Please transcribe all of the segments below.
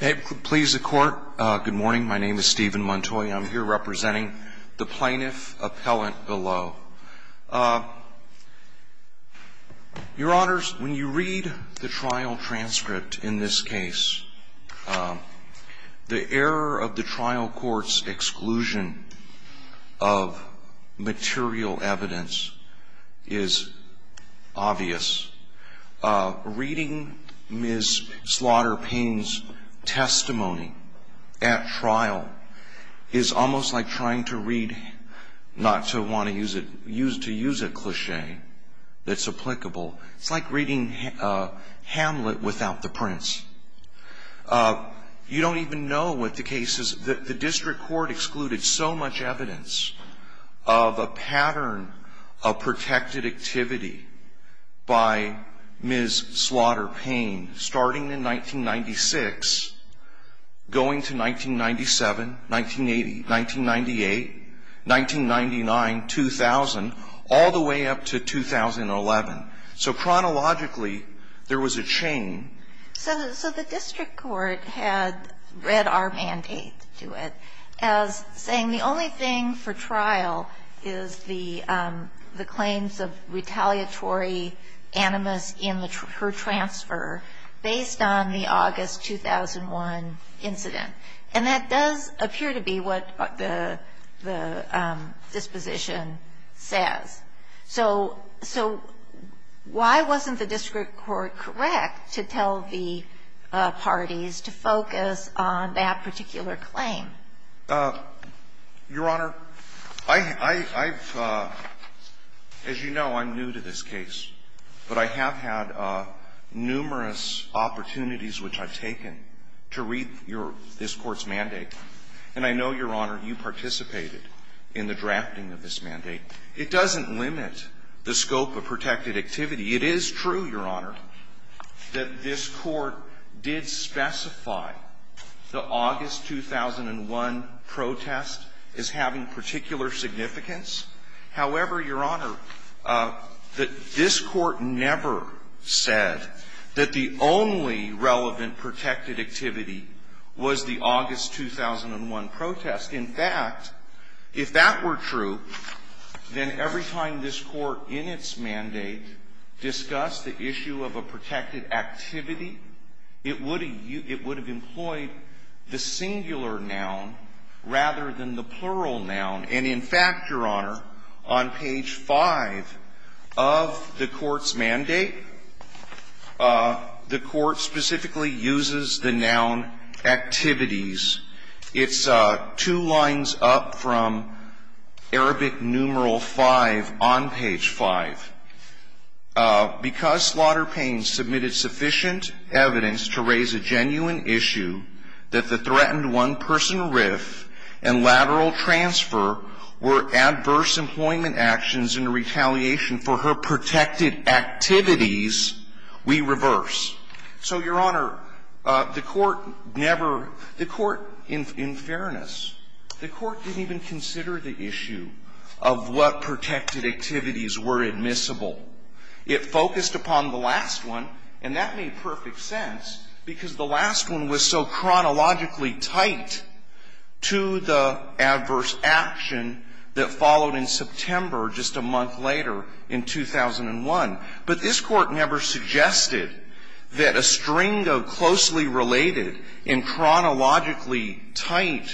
Good morning. My name is Stephen Montoy. I'm here representing the plaintiff appellant below. Your Honors, when you read the trial transcript in this case, the error of the trial court's exclusion of material evidence is obvious. Reading Ms. Slaughter-Payne's testimony at trial is almost like trying to read, not to want to use it, to use a cliche that's applicable. It's like reading Hamlet without the prince. You don't even know what the case is. The district court excluded so much evidence of a pattern of protected activity by Ms. Slaughter-Payne starting in 1996, going to 1997, 1980, 1998, 1999, 2000, all the way up to 2011. So chronologically, there was a chain. So the district court had read our mandate to it as saying the only thing for trial is the claims of retaliatory animus in her transfer based on the August 2001 incident. And that does appear to be what the disposition says. So why wasn't the district court correct to tell the parties to focus on that particular claim? Your Honor, I've, as you know, I'm new to this case. But I have had numerous opportunities which I've taken to read this Court's mandate. And I know, Your Honor, you participated in the drafting of this mandate. It doesn't limit the scope of protected activity. It is true, Your Honor, that this Court did specify the August 2001 protest is having particular significance. However, Your Honor, this Court never said that the only relevant protected activity was the August 2001 protest. In fact, if that were true, then every time this Court in its mandate discussed the issue of a protected activity, it would have employed the singular noun rather than the plural noun. And in fact, Your Honor, on page 5 of the Court's mandate, the Court specifically uses the noun activities. It's two lines up from Arabic numeral 5 on page 5. Because Slaughter Payne submitted sufficient evidence to raise a genuine issue that the threatened one-person RIF and lateral transfer were adverse employment actions in retaliation for her protected activities, we reverse. So, Your Honor, the Court never – the Court, in fairness, the Court didn't even consider the issue of what protected activities were admissible. It focused upon the last one, and that made perfect sense, because the last one was so chronologically tight to the adverse action that followed in September, just a month later in 2001. But this Court never suggested that a string of closely related and chronologically tight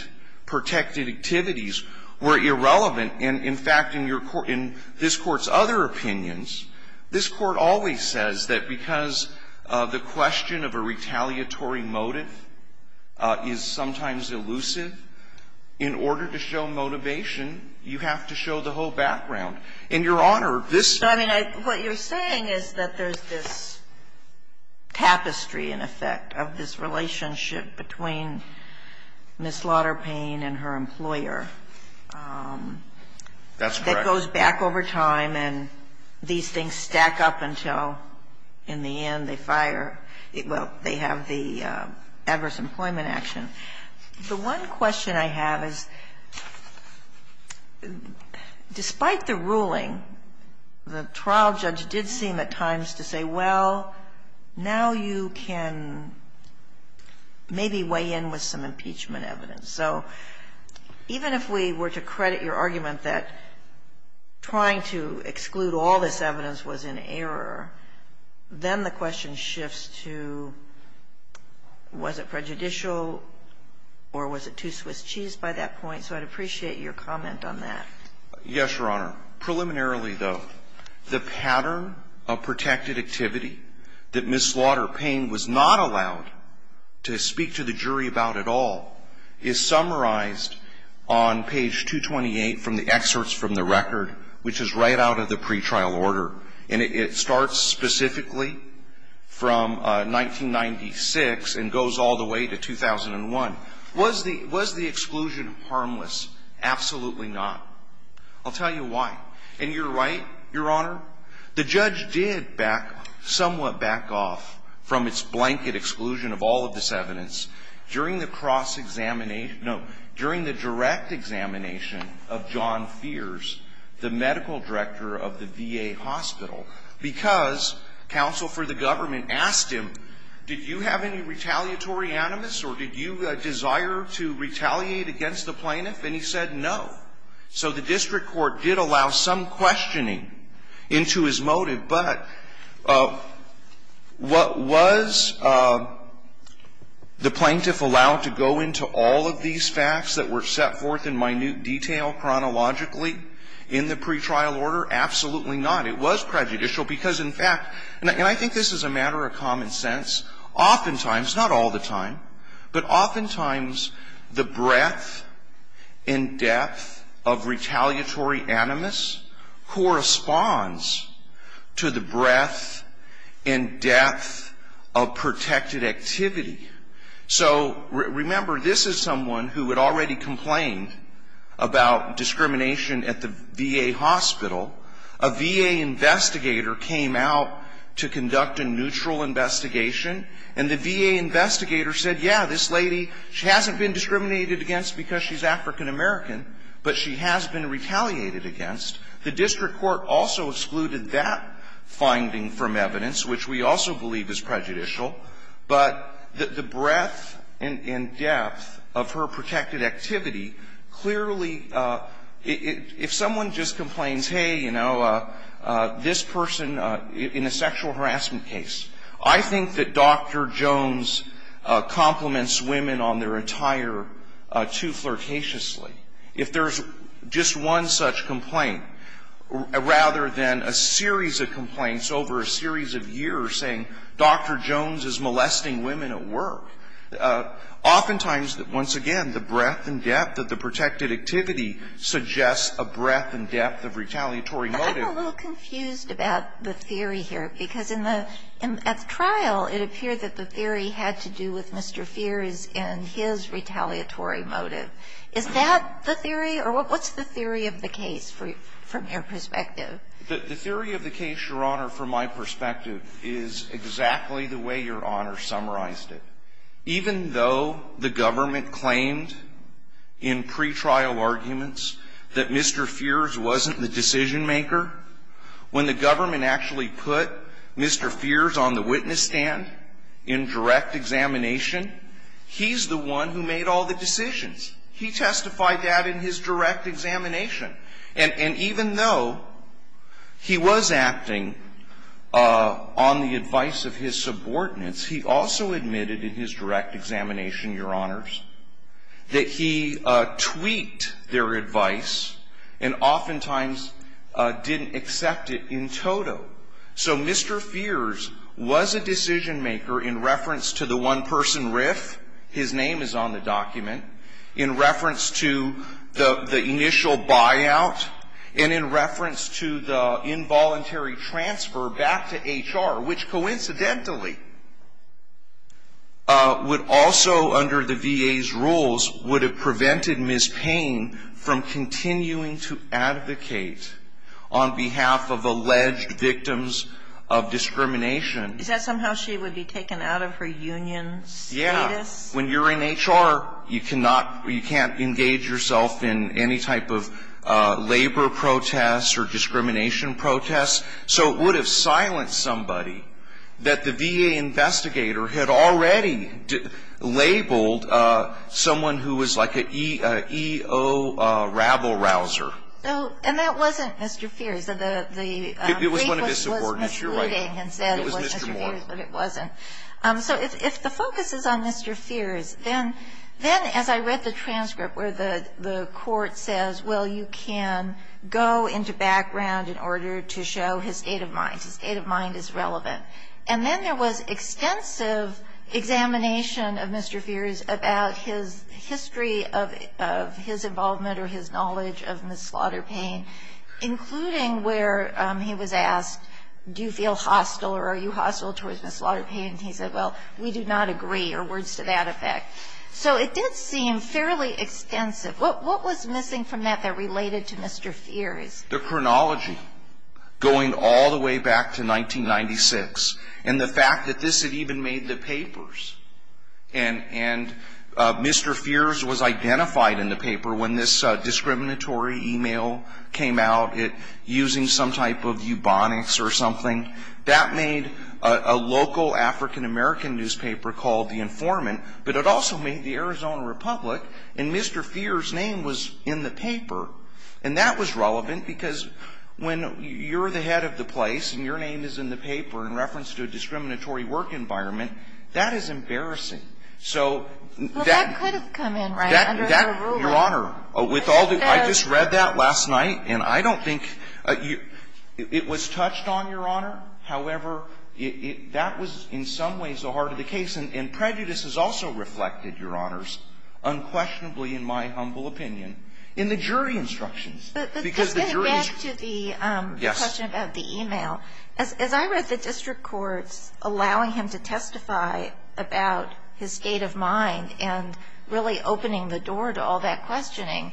protected activities were irrelevant. And in fact, in your – in this Court's other opinions, this Court always says that because the question of a retaliatory motive is sometimes elusive, in order to show motivation, you have to show the whole background. And, Your Honor, this – So, I mean, what you're saying is that there's this tapestry, in effect, of this relationship between Ms. Slaughter Payne and her employer that goes back over time and these things stack up until, in the end, they fire – well, they have the adverse employment action. The one question I have is, despite the ruling, the trial judge did seem at times to say, well, now you can maybe weigh in with some impeachment evidence. So even if we were to credit your argument that trying to exclude all this evidence was in error, then the question shifts to was it prejudicial or was it too Swiss cheese by that point? So I'd appreciate your comment on that. Yes, Your Honor. Preliminarily, though, the pattern of protected activity that Ms. Slaughter Payne was not allowed to speak to the jury about at all is summarized on page 228 from the trial order, and it starts specifically from 1996 and goes all the way to 2001. Was the exclusion harmless? Absolutely not. I'll tell you why. And you're right, Your Honor. The judge did back – somewhat back off from its blanket exclusion of all of this evidence. During the cross-examination – no, during the direct examination of John Feers, the medical director of the VA hospital, because counsel for the government asked him, did you have any retaliatory animus or did you desire to retaliate against the plaintiff? And he said no. So the district court did allow some questioning into his motive. But what was the plaintiff allowed to go into all of these facts that were set forth in minute detail, chronologically, in the pretrial order? Absolutely not. It was prejudicial because, in fact – and I think this is a matter of common sense. Oftentimes, not all the time, but oftentimes the breadth and depth of retaliatory animus corresponds to the breadth and depth of protected activity. So, remember, this is someone who had already complained about discrimination at the VA hospital. A VA investigator came out to conduct a neutral investigation, and the VA investigator said, yeah, this lady, she hasn't been discriminated against because she's African-American, but she has been retaliated against. The district court also excluded that finding from evidence, which we also believe is prejudicial. But the breadth and depth of her protected activity clearly – if someone just complains, hey, you know, this person in a sexual harassment case, I think that Dr. Jones compliments women on their attire too flirtatiously. If there's just one such complaint, rather than a series of complaints over a series of years saying Dr. Jones is molesting women at work, oftentimes, once again, the breadth and depth of the protected activity suggests a breadth and depth of retaliatory motive. I'm a little confused about the theory here, because in the – at the trial, it appeared that the theory had to do with Mr. Feers and his retaliatory motive. Is that the theory, or what's the theory of the case from your perspective? The theory of the case, Your Honor, from my perspective, is exactly the way Your Honor summarized it. Even though the government claimed in pretrial arguments that Mr. Feers wasn't the decision-maker, when the government actually put Mr. Feers on the witness stand in direct examination, he's the one who made all the decisions. He testified that in his direct examination. And even though he was acting on the advice of his subordinates, he also admitted in his direct examination, Your Honors, that he tweaked their advice and oftentimes didn't accept it in toto. So Mr. Feers was a decision-maker in reference to the one-person riff – his name is on the document – in reference to the initial buyout, and in reference to the involuntary transfer back to HR, which coincidentally would also, under the VA's rules, would have prevented Ms. Payne from continuing to advocate on behalf of alleged victims of discrimination. Is that somehow she would be taken out of her union status? Yeah. When you're in HR, you cannot – you can't engage yourself in any type of labor protests or discrimination protests. So it would have silenced somebody that the VA investigator had already labeled someone who was like an EO rabble-rouser. And that wasn't Mr. Feers. It was one of his subordinates. It was Ms. Luding and said it was Mr. Feers, but it wasn't. So if the focus is on Mr. Feers, then as I read the transcript where the court says, well, you can go into background in order to show his state of mind. His state of mind is relevant. And then there was extensive examination of Mr. Feers about his history of his involvement or his knowledge of Ms. Slaughter Payne, including where he was and he said, well, we do not agree or words to that effect. So it did seem fairly extensive. What was missing from that that related to Mr. Feers? The chronology going all the way back to 1996 and the fact that this had even made the papers. And Mr. Feers was identified in the paper when this discriminatory email came out using some type of eubonics or something. That made a local African-American newspaper called the Informant, but it also made the Arizona Republic. And Mr. Feers' name was in the paper. And that was relevant because when you're the head of the place and your name is in the paper in reference to a discriminatory work environment, that is embarrassing. So that could have come in right under the rubric. Your Honor, I just read that last night, and I don't think it was touched on, Your Honor. However, that was in some ways the heart of the case. And prejudice is also reflected, Your Honors, unquestionably in my humble opinion in the jury instructions. Because the jury ---- But getting back to the question about the email, as I read the district courts allowing him to testify about his state of mind and really opening the door to all that questioning,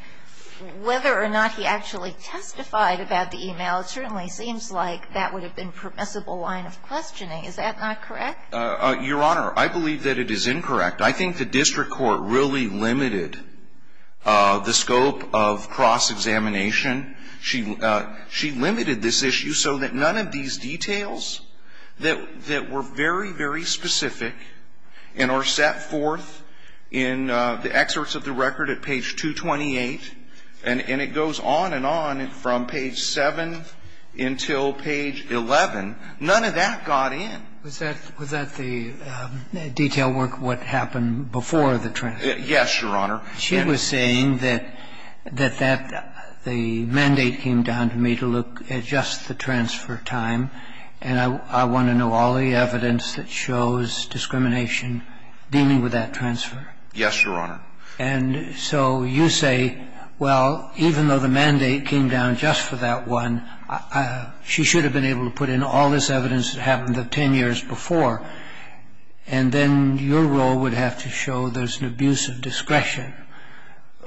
whether or not he actually testified about the email, it certainly seems like that would have been permissible line of questioning. Is that not correct? Your Honor, I believe that it is incorrect. I think the district court really limited the scope of cross-examination. She limited this issue so that none of these details that were very, very specific and are set forth in the excerpts of the record at page 228, and it goes on and on from page 7 until page 11, none of that got in. Was that the detail work what happened before the transfer? Yes, Your Honor. She was saying that the mandate came down to me to look at just the transfer time, and I want to know all the evidence that shows discrimination dealing with that transfer. Yes, Your Honor. And so you say, well, even though the mandate came down just for that one, she should have been able to put in all this evidence that happened the 10 years before, and then your role would have to show there's an abuse of discretion.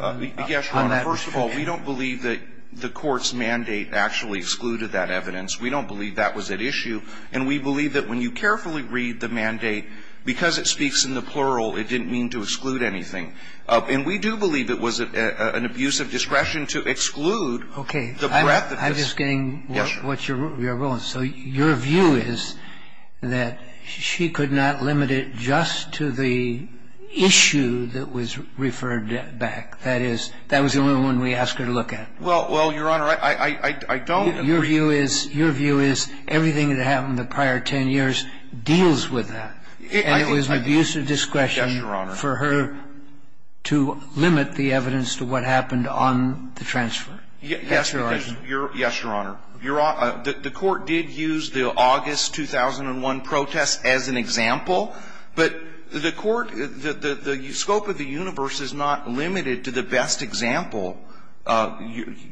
Yes, Your Honor. First of all, we don't believe that the court's mandate actually excluded that evidence. We don't believe that was at issue, and we believe that when you carefully read the mandate, because it speaks in the plural, it didn't mean to exclude anything. And we do believe it was an abuse of discretion to exclude the breadth of this. Okay. I'm just getting what your role is. So your view is that she could not limit it just to the issue that was referred back. That is, that was the only one we asked her to look at. Well, Your Honor, I don't agree. Your view is everything that happened the prior 10 years deals with that. And it was an abuse of discretion for her to limit the evidence to what happened on the transfer. Yes, Your Honor. Yes, Your Honor. The court did use the August 2001 protest as an example, but the court, the scope of the universe is not limited to the best example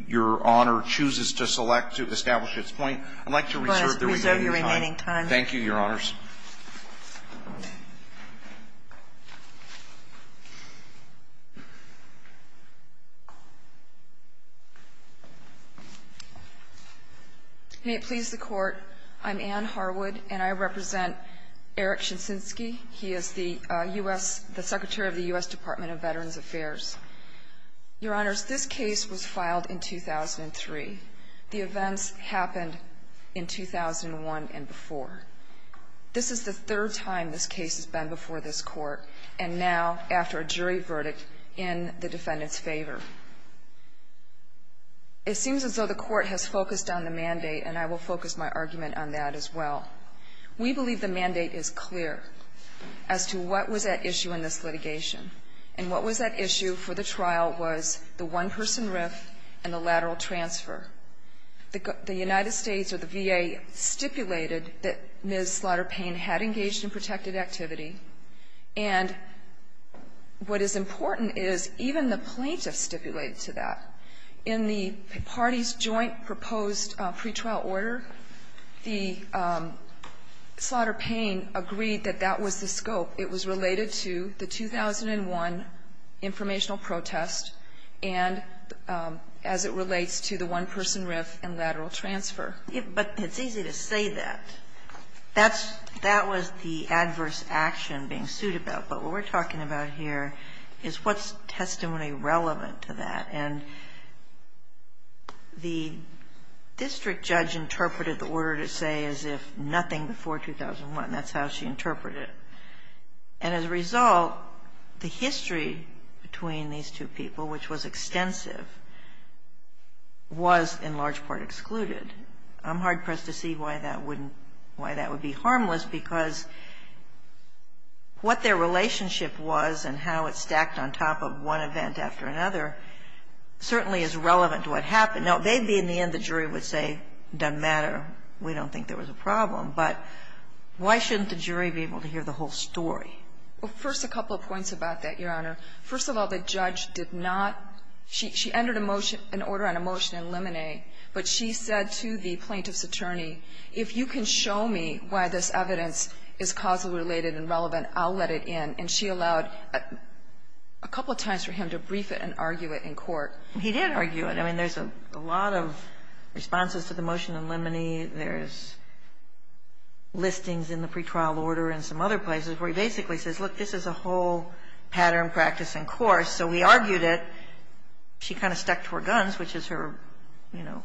Your Honor chooses to select to establish its point. I'd like to reserve the remaining time. Thank you, Your Honors. Thank you very much. May it please the court, I'm Anne Harwood, and I represent Eric Shinski. He is the Secretary of the U.S. Department of Veterans Affairs. Your Honors, this case was filed in 2003. The events happened in 2001 and before. This is the third time this case has been before this Court, and now after a jury verdict in the defendant's favor. It seems as though the Court has focused on the mandate, and I will focus my argument on that as well. We believe the mandate is clear as to what was at issue in this litigation, and what was at issue for the trial was the one-person RIF and the lateral transfer. The United States or the VA stipulated that Ms. Slaughter-Pain had engaged in protected activity, and what is important is even the plaintiff stipulated to that. In the party's joint proposed pretrial order, the Slaughter-Pain agreed that that was the scope. It was related to the 2001 informational protest and as it relates to the one-person RIF and lateral transfer. But it's easy to say that. That was the adverse action being sued about, but what we're talking about here is what's testimony relevant to that, and the district judge interpreted the order to say as if nothing before 2001. That's how she interpreted it. And as a result, the history between these two people, which was extensive, was in large part excluded. I'm hard-pressed to see why that wouldn't, why that would be harmless, because what their relationship was and how it stacked on top of one event after another certainly is relevant to what happened. Now, they'd be in the end, the jury would say, doesn't matter, we don't think there was a problem. But why shouldn't the jury be able to hear the whole story? Well, first a couple of points about that, Your Honor. First of all, the judge did not, she entered a motion, an order on a motion in limine, but she said to the plaintiff's attorney, if you can show me why this evidence is causally related and relevant, I'll let it in. And she allowed a couple of times for him to brief it and argue it in court. He did argue it. I mean, there's a lot of responses to the motion in limine. There's listings in the pretrial order and some other places where he basically says, look, this is a whole pattern, practice, and course, so we argued it. She kind of stuck to her guns, which is her, you know,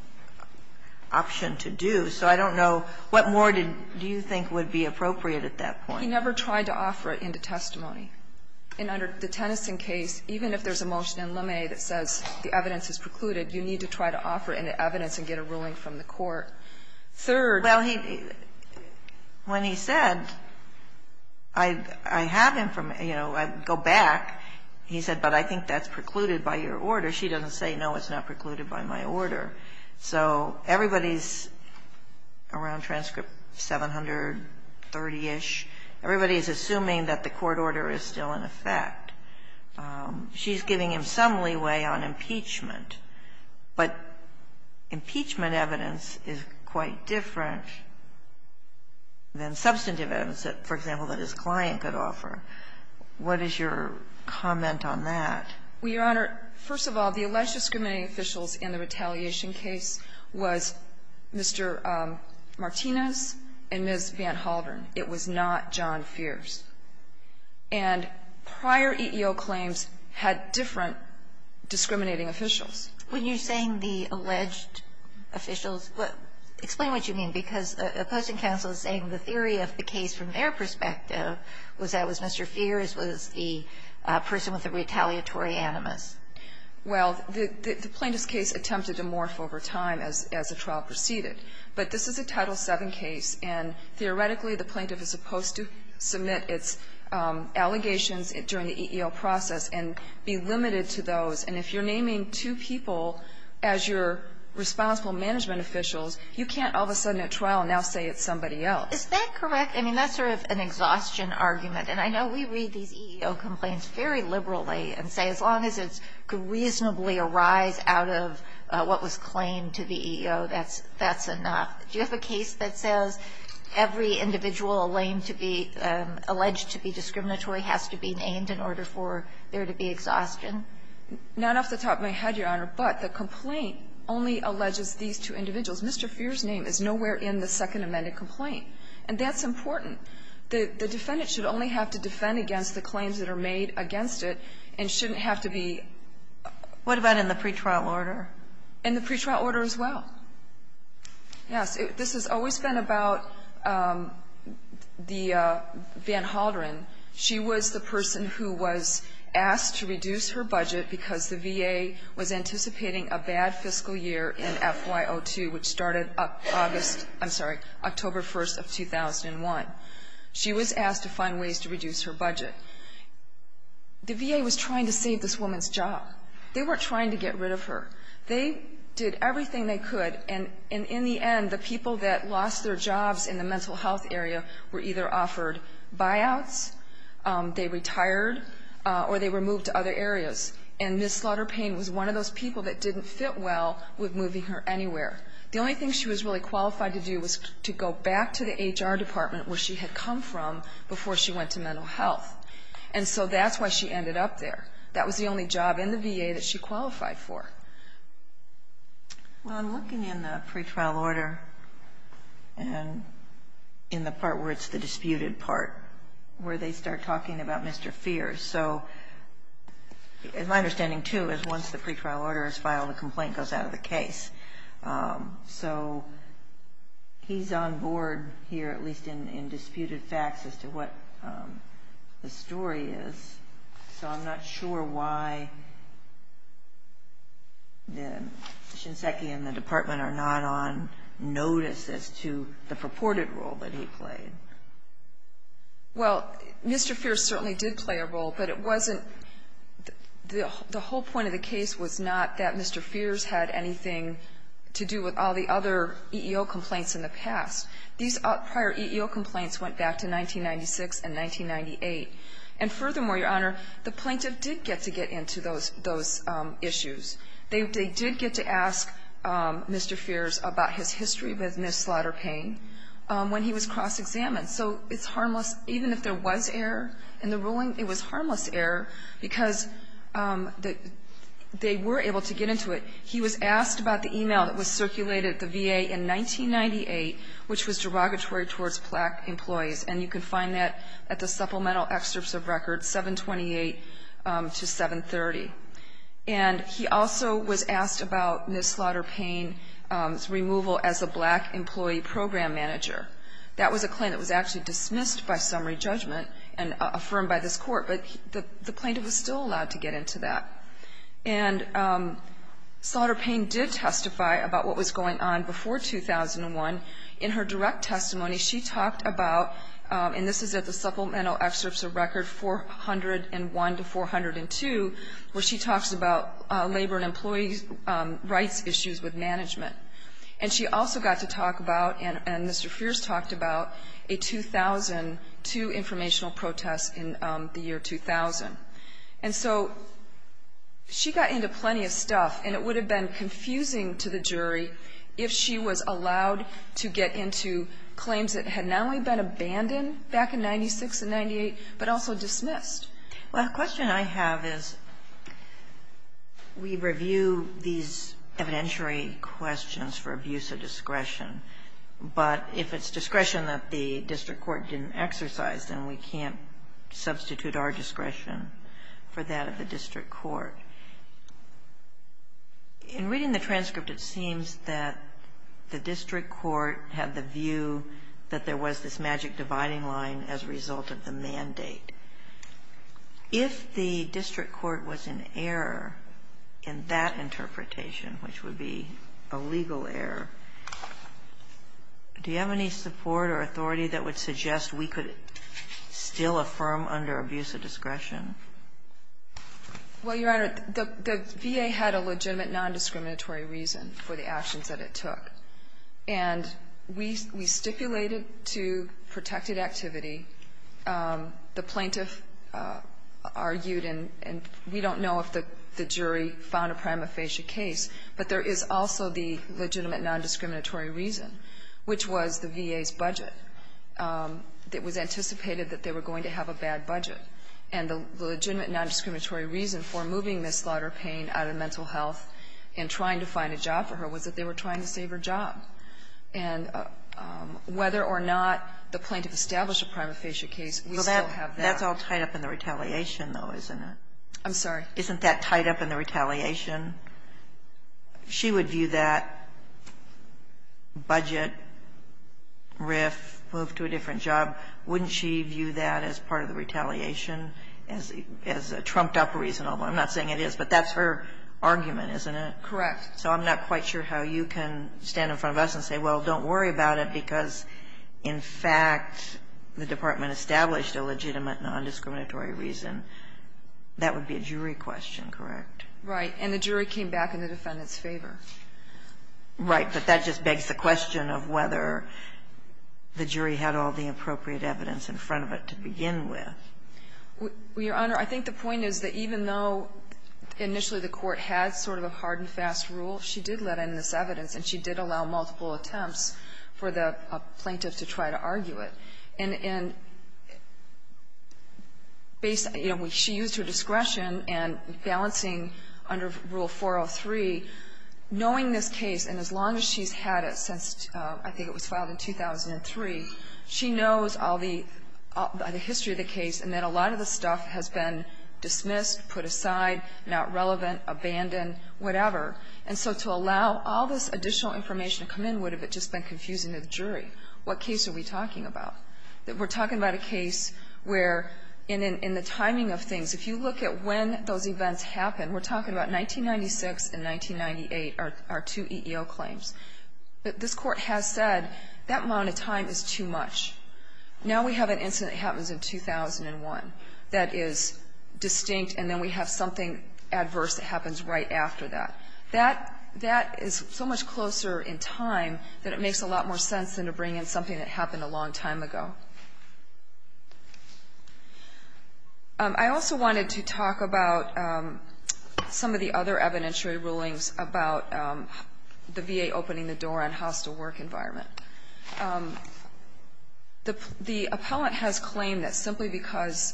option to do. So I don't know what more do you think would be appropriate at that point. He never tried to offer it into testimony. And under the Tennyson case, even if there's a motion in limine that says the evidence is precluded, you need to try to offer it into evidence and get a ruling from the court. Third. Well, he, when he said, I have information, you know, I go back, he said, but I think that's precluded by your order. She doesn't say, no, it's not precluded by my order. So everybody's around transcript 730-ish, everybody's assuming that the court order is still in effect. She's giving him some leeway on impeachment, but impeachment evidence is quite different than substantive evidence that, for example, that his client could offer. What is your comment on that? Well, Your Honor, first of all, the alleged discriminating officials in the retaliation case was Mr. Martinez and Ms. Van Halvern. It was not John Fierce. And prior EEO claims had different discriminating officials. When you're saying the alleged officials, explain what you mean, because the opposing counsel is saying the theory of the case from their perspective was that it was Mr. Fierce, was the person with the retaliatory animus. Well, the plaintiff's case attempted to morph over time as the trial proceeded. But this is a Title VII case, and theoretically the plaintiff is supposed to submit its allegations during the EEO process and be limited to those. And if you're naming two people as your responsible management officials, you can't all of a sudden at trial now say it's somebody else. Is that correct? I mean, that's sort of an exhaustion argument. And I know we read these EEO complaints very liberally and say as long as it could reasonably arise out of what was claimed to the EEO, that's enough. Do you have a case that says every individual alleged to be discriminatory has to be named in order for there to be exhaustion? Not off the top of my head, Your Honor. But the complaint only alleges these two individuals. Mr. Fierce's name is nowhere in the second amended complaint. And that's important. The defendant should only have to defend against the claims that are made against it and shouldn't have to be ---- What about in the pretrial order? In the pretrial order as well. Yes. This has always been about the Van Halderen. She was the person who was asked to reduce her budget because the VA was anticipating a bad fiscal year in FY02, which started August ---- I'm sorry, October 1st of 2001. She was asked to find ways to reduce her budget. The VA was trying to save this woman's job. They weren't trying to get rid of her. They did everything they could. And in the end, the people that lost their jobs in the mental health area were either offered buyouts, they retired, or they were moved to other areas. And Ms. Slaughter-Pain was one of those people that didn't fit well with moving her anywhere. The only thing she was really qualified to do was to go back to the HR department where she had come from before she went to mental health. And so that's why she ended up there. That was the only job in the VA that she qualified for. Well, I'm looking in the pretrial order and in the part where it's the disputed part where they start talking about Mr. Feers. So my understanding, too, is once the pretrial order is filed, the complaint goes out of the case. So he's on board here, at least in disputed facts, as to what the story is. So I'm not sure why Shinseki and the department are not on notice as to the purported role that he played. Well, Mr. Feers certainly did play a role, but it wasn't the whole point of the to do with all the other EEO complaints in the past. These prior EEO complaints went back to 1996 and 1998. And furthermore, Your Honor, the plaintiff did get to get into those issues. They did get to ask Mr. Feers about his history with Ms. Slaughter-Pain when he was cross-examined. So it's harmless, even if there was error in the ruling, it was harmless error because they were able to get into it. He was asked about the email that was circulated at the VA in 1998, which was derogatory towards black employees. And you can find that at the supplemental excerpts of records, 728 to 730. And he also was asked about Ms. Slaughter-Pain's removal as a black employee program manager. That was a claim that was actually dismissed by summary judgment and affirmed by this court. But the plaintiff was still allowed to get into that. And Slaughter-Pain did testify about what was going on before 2001. In her direct testimony, she talked about, and this is at the supplemental excerpts of record 401 to 402, where she talks about labor and employee rights issues with management. And she also got to talk about, and Mr. Feers talked about, a 2002 informational protest in the year 2000. And so she got into plenty of stuff, and it would have been confusing to the jury if she was allowed to get into claims that had not only been abandoned back in 96 and 98, but also dismissed. Well, the question I have is we review these evidentiary questions for abuse of discretion, but if it's discretion that the district court didn't exercise, then we can't substitute our discretion for that of the district court. In reading the transcript, it seems that the district court had the view that there was this magic dividing line as a result of the mandate. If the district court was in error in that interpretation, which would be a legal error, do you have any support or authority that would suggest we could still affirm under abuse of discretion? Well, Your Honor, the VA had a legitimate nondiscriminatory reason for the actions that it took. And we stipulated to protected activity. The plaintiff argued, and we don't know if the jury found a prima facie case, but there is also the legitimate nondiscriminatory reason, which was the VA's budget. It was anticipated that they were going to have a bad budget. And the legitimate nondiscriminatory reason for moving this slaughter pain out of mental health and trying to find a job for her was that they were trying to save her job. And whether or not the plaintiff established a prima facie case, we still have that. That's all tied up in the retaliation, though, isn't it? I'm sorry? Isn't that tied up in the retaliation? She would view that budget, RIF, move to a different job. Wouldn't she view that as part of the retaliation, as a trumped-up reason? Although I'm not saying it is, but that's her argument, isn't it? Correct. So I'm not quite sure how you can stand in front of us and say, well, don't worry about it, because, in fact, the department established a legitimate nondiscriminatory That would be a jury question, correct? Right. And the jury came back in the defendant's favor. Right. But that just begs the question of whether the jury had all the appropriate evidence in front of it to begin with. Your Honor, I think the point is that even though initially the Court had sort of a hard and fast rule, she did let in this evidence and she did allow multiple attempts for the plaintiff to try to argue it. And, you know, she used her discretion and balancing under Rule 403, knowing this case, and as long as she's had it since I think it was filed in 2003, she knows all the history of the case and that a lot of the stuff has been dismissed, put aside, not relevant, abandoned, whatever. And so to allow all this additional information to come in would have just been confusing to the jury. What case are we talking about? We're talking about a case where in the timing of things, if you look at when those events happened, we're talking about 1996 and 1998, our two EEO claims. This Court has said that amount of time is too much. Now we have an incident that happens in 2001 that is distinct, and then we have something adverse that happens right after that. That is so much closer in time that it makes a lot more sense than to bring in something that happened a long time ago. I also wanted to talk about some of the other evidentiary rulings about the VA opening the door on hostile work environment. The appellant has claimed that simply because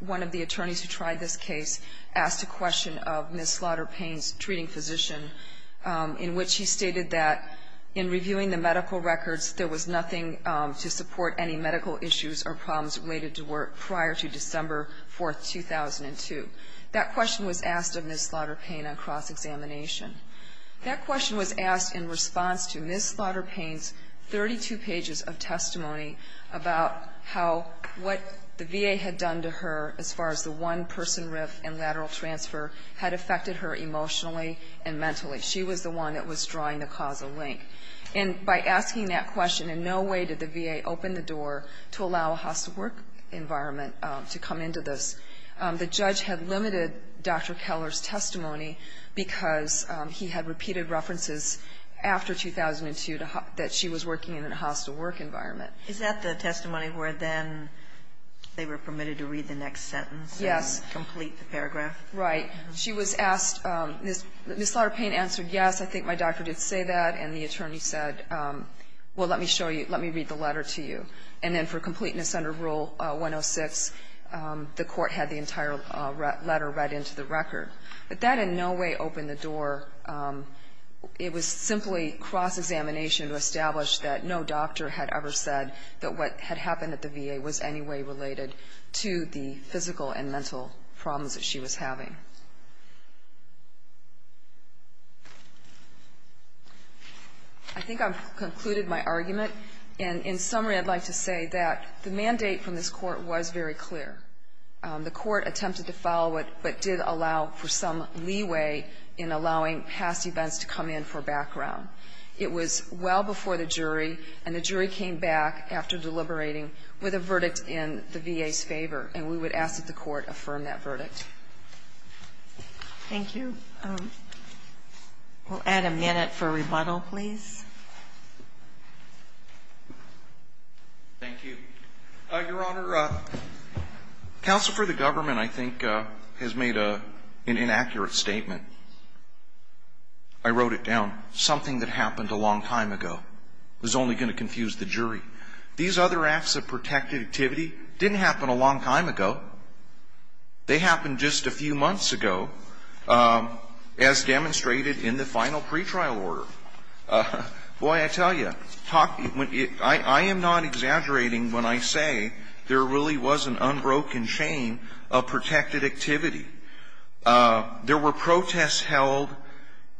one of the attorneys who tried this case asked a question of Ms. Slaughter-Payne's treating physician, in which she asked the VA to support any medical issues or problems related to work prior to December 4, 2002. That question was asked of Ms. Slaughter-Payne on cross-examination. That question was asked in response to Ms. Slaughter-Payne's 32 pages of testimony about how what the VA had done to her as far as the one-person RIF and lateral transfer had affected her emotionally and mentally. She was the one that was drawing the causal link. And by asking that question, in no way did the VA open the door to allow a hostile work environment to come into this. The judge had limited Dr. Keller's testimony because he had repeated references after 2002 that she was working in a hostile work environment. Is that the testimony where then they were permitted to read the next sentence? Yes. And complete the paragraph? Right. She was asked, Ms. Slaughter-Payne answered yes, I think my doctor did say that, and the attorney said, well, let me show you, let me read the letter to you. And then for completeness under Rule 106, the court had the entire letter read into the record. But that in no way opened the door. It was simply cross-examination to establish that no doctor had ever said that what had happened at the VA was any way related to the physical and mental problems that she was having. I think I've concluded my argument. And in summary, I'd like to say that the mandate from this court was very clear. The court attempted to follow it, but did allow for some leeway in allowing past events to come in for background. It was well before the jury, and the jury came back after deliberating with a verdict in the VA's favor. And we would ask that the court affirm that verdict. Thank you. We'll add a minute for rebuttal, please. Thank you. Your Honor, counsel for the government, I think, has made an inaccurate statement. I wrote it down. Something that happened a long time ago. It was only going to confuse the jury. These other acts of protected activity didn't happen a long time ago. They happened just a few months ago, as demonstrated in the final pretrial order. Boy, I tell you, I am not exaggerating when I say there really was an unbroken chain of protected activity. There were protests held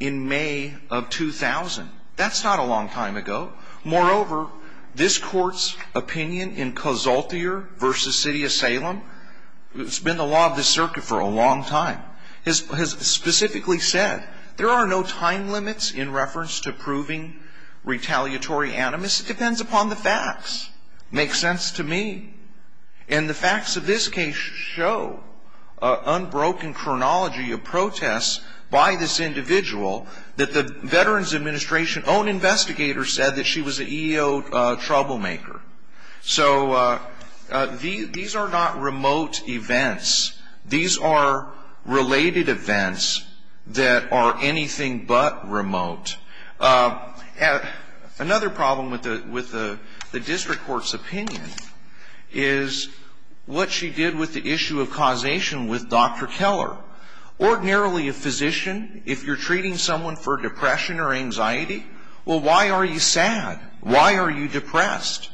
in May of 2000. That's not a long time ago. Moreover, this court's opinion in Cazaltier v. City of Salem, it's been the law of the circuit for a long time, has specifically said there are no time limits in reference to proving retaliatory animus. It depends upon the facts. Makes sense to me. And the facts of this case show an unbroken chronology of protests by this woman. She was an EEO troublemaker. So these are not remote events. These are related events that are anything but remote. Another problem with the district court's opinion is what she did with the issue of causation with Dr. Keller. Ordinarily, a physician, if you're treating someone for depression or anxiety, well, why are you sad? Why are you depressed?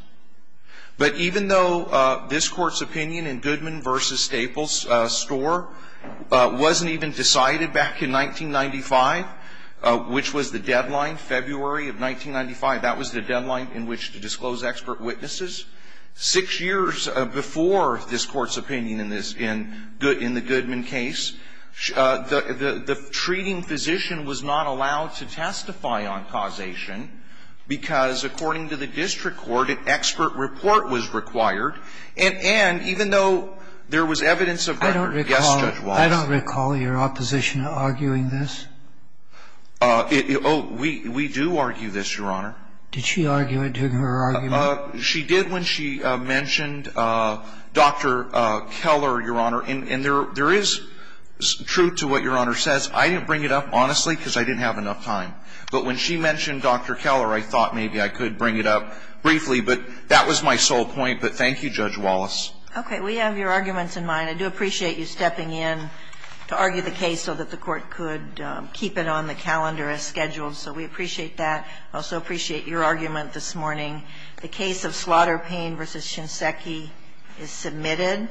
But even though this court's opinion in Goodman v. Staples Store wasn't even decided back in 1995, which was the deadline, February of 1995, that was the deadline in which to disclose expert witnesses. Six years before this court's opinion in this, in the Goodman case, the treating physician was not allowed to testify on causation because, according to the district court, an expert report was required. And even though there was evidence of record, yes, Judge Wallace. I don't recall your opposition arguing this. Oh, we do argue this, Your Honor. Did she argue it during her argument? She did when she mentioned Dr. Keller, Your Honor. And there is truth to what Your Honor says. I didn't bring it up, honestly, because I didn't have enough time. But when she mentioned Dr. Keller, I thought maybe I could bring it up briefly. But that was my sole point. But thank you, Judge Wallace. Okay. We have your arguments in mind. I do appreciate you stepping in to argue the case so that the court could keep it on the calendar as scheduled. So we appreciate that. I also appreciate your argument this morning. The case of Slaughter Payne v. Shinseki is submitted.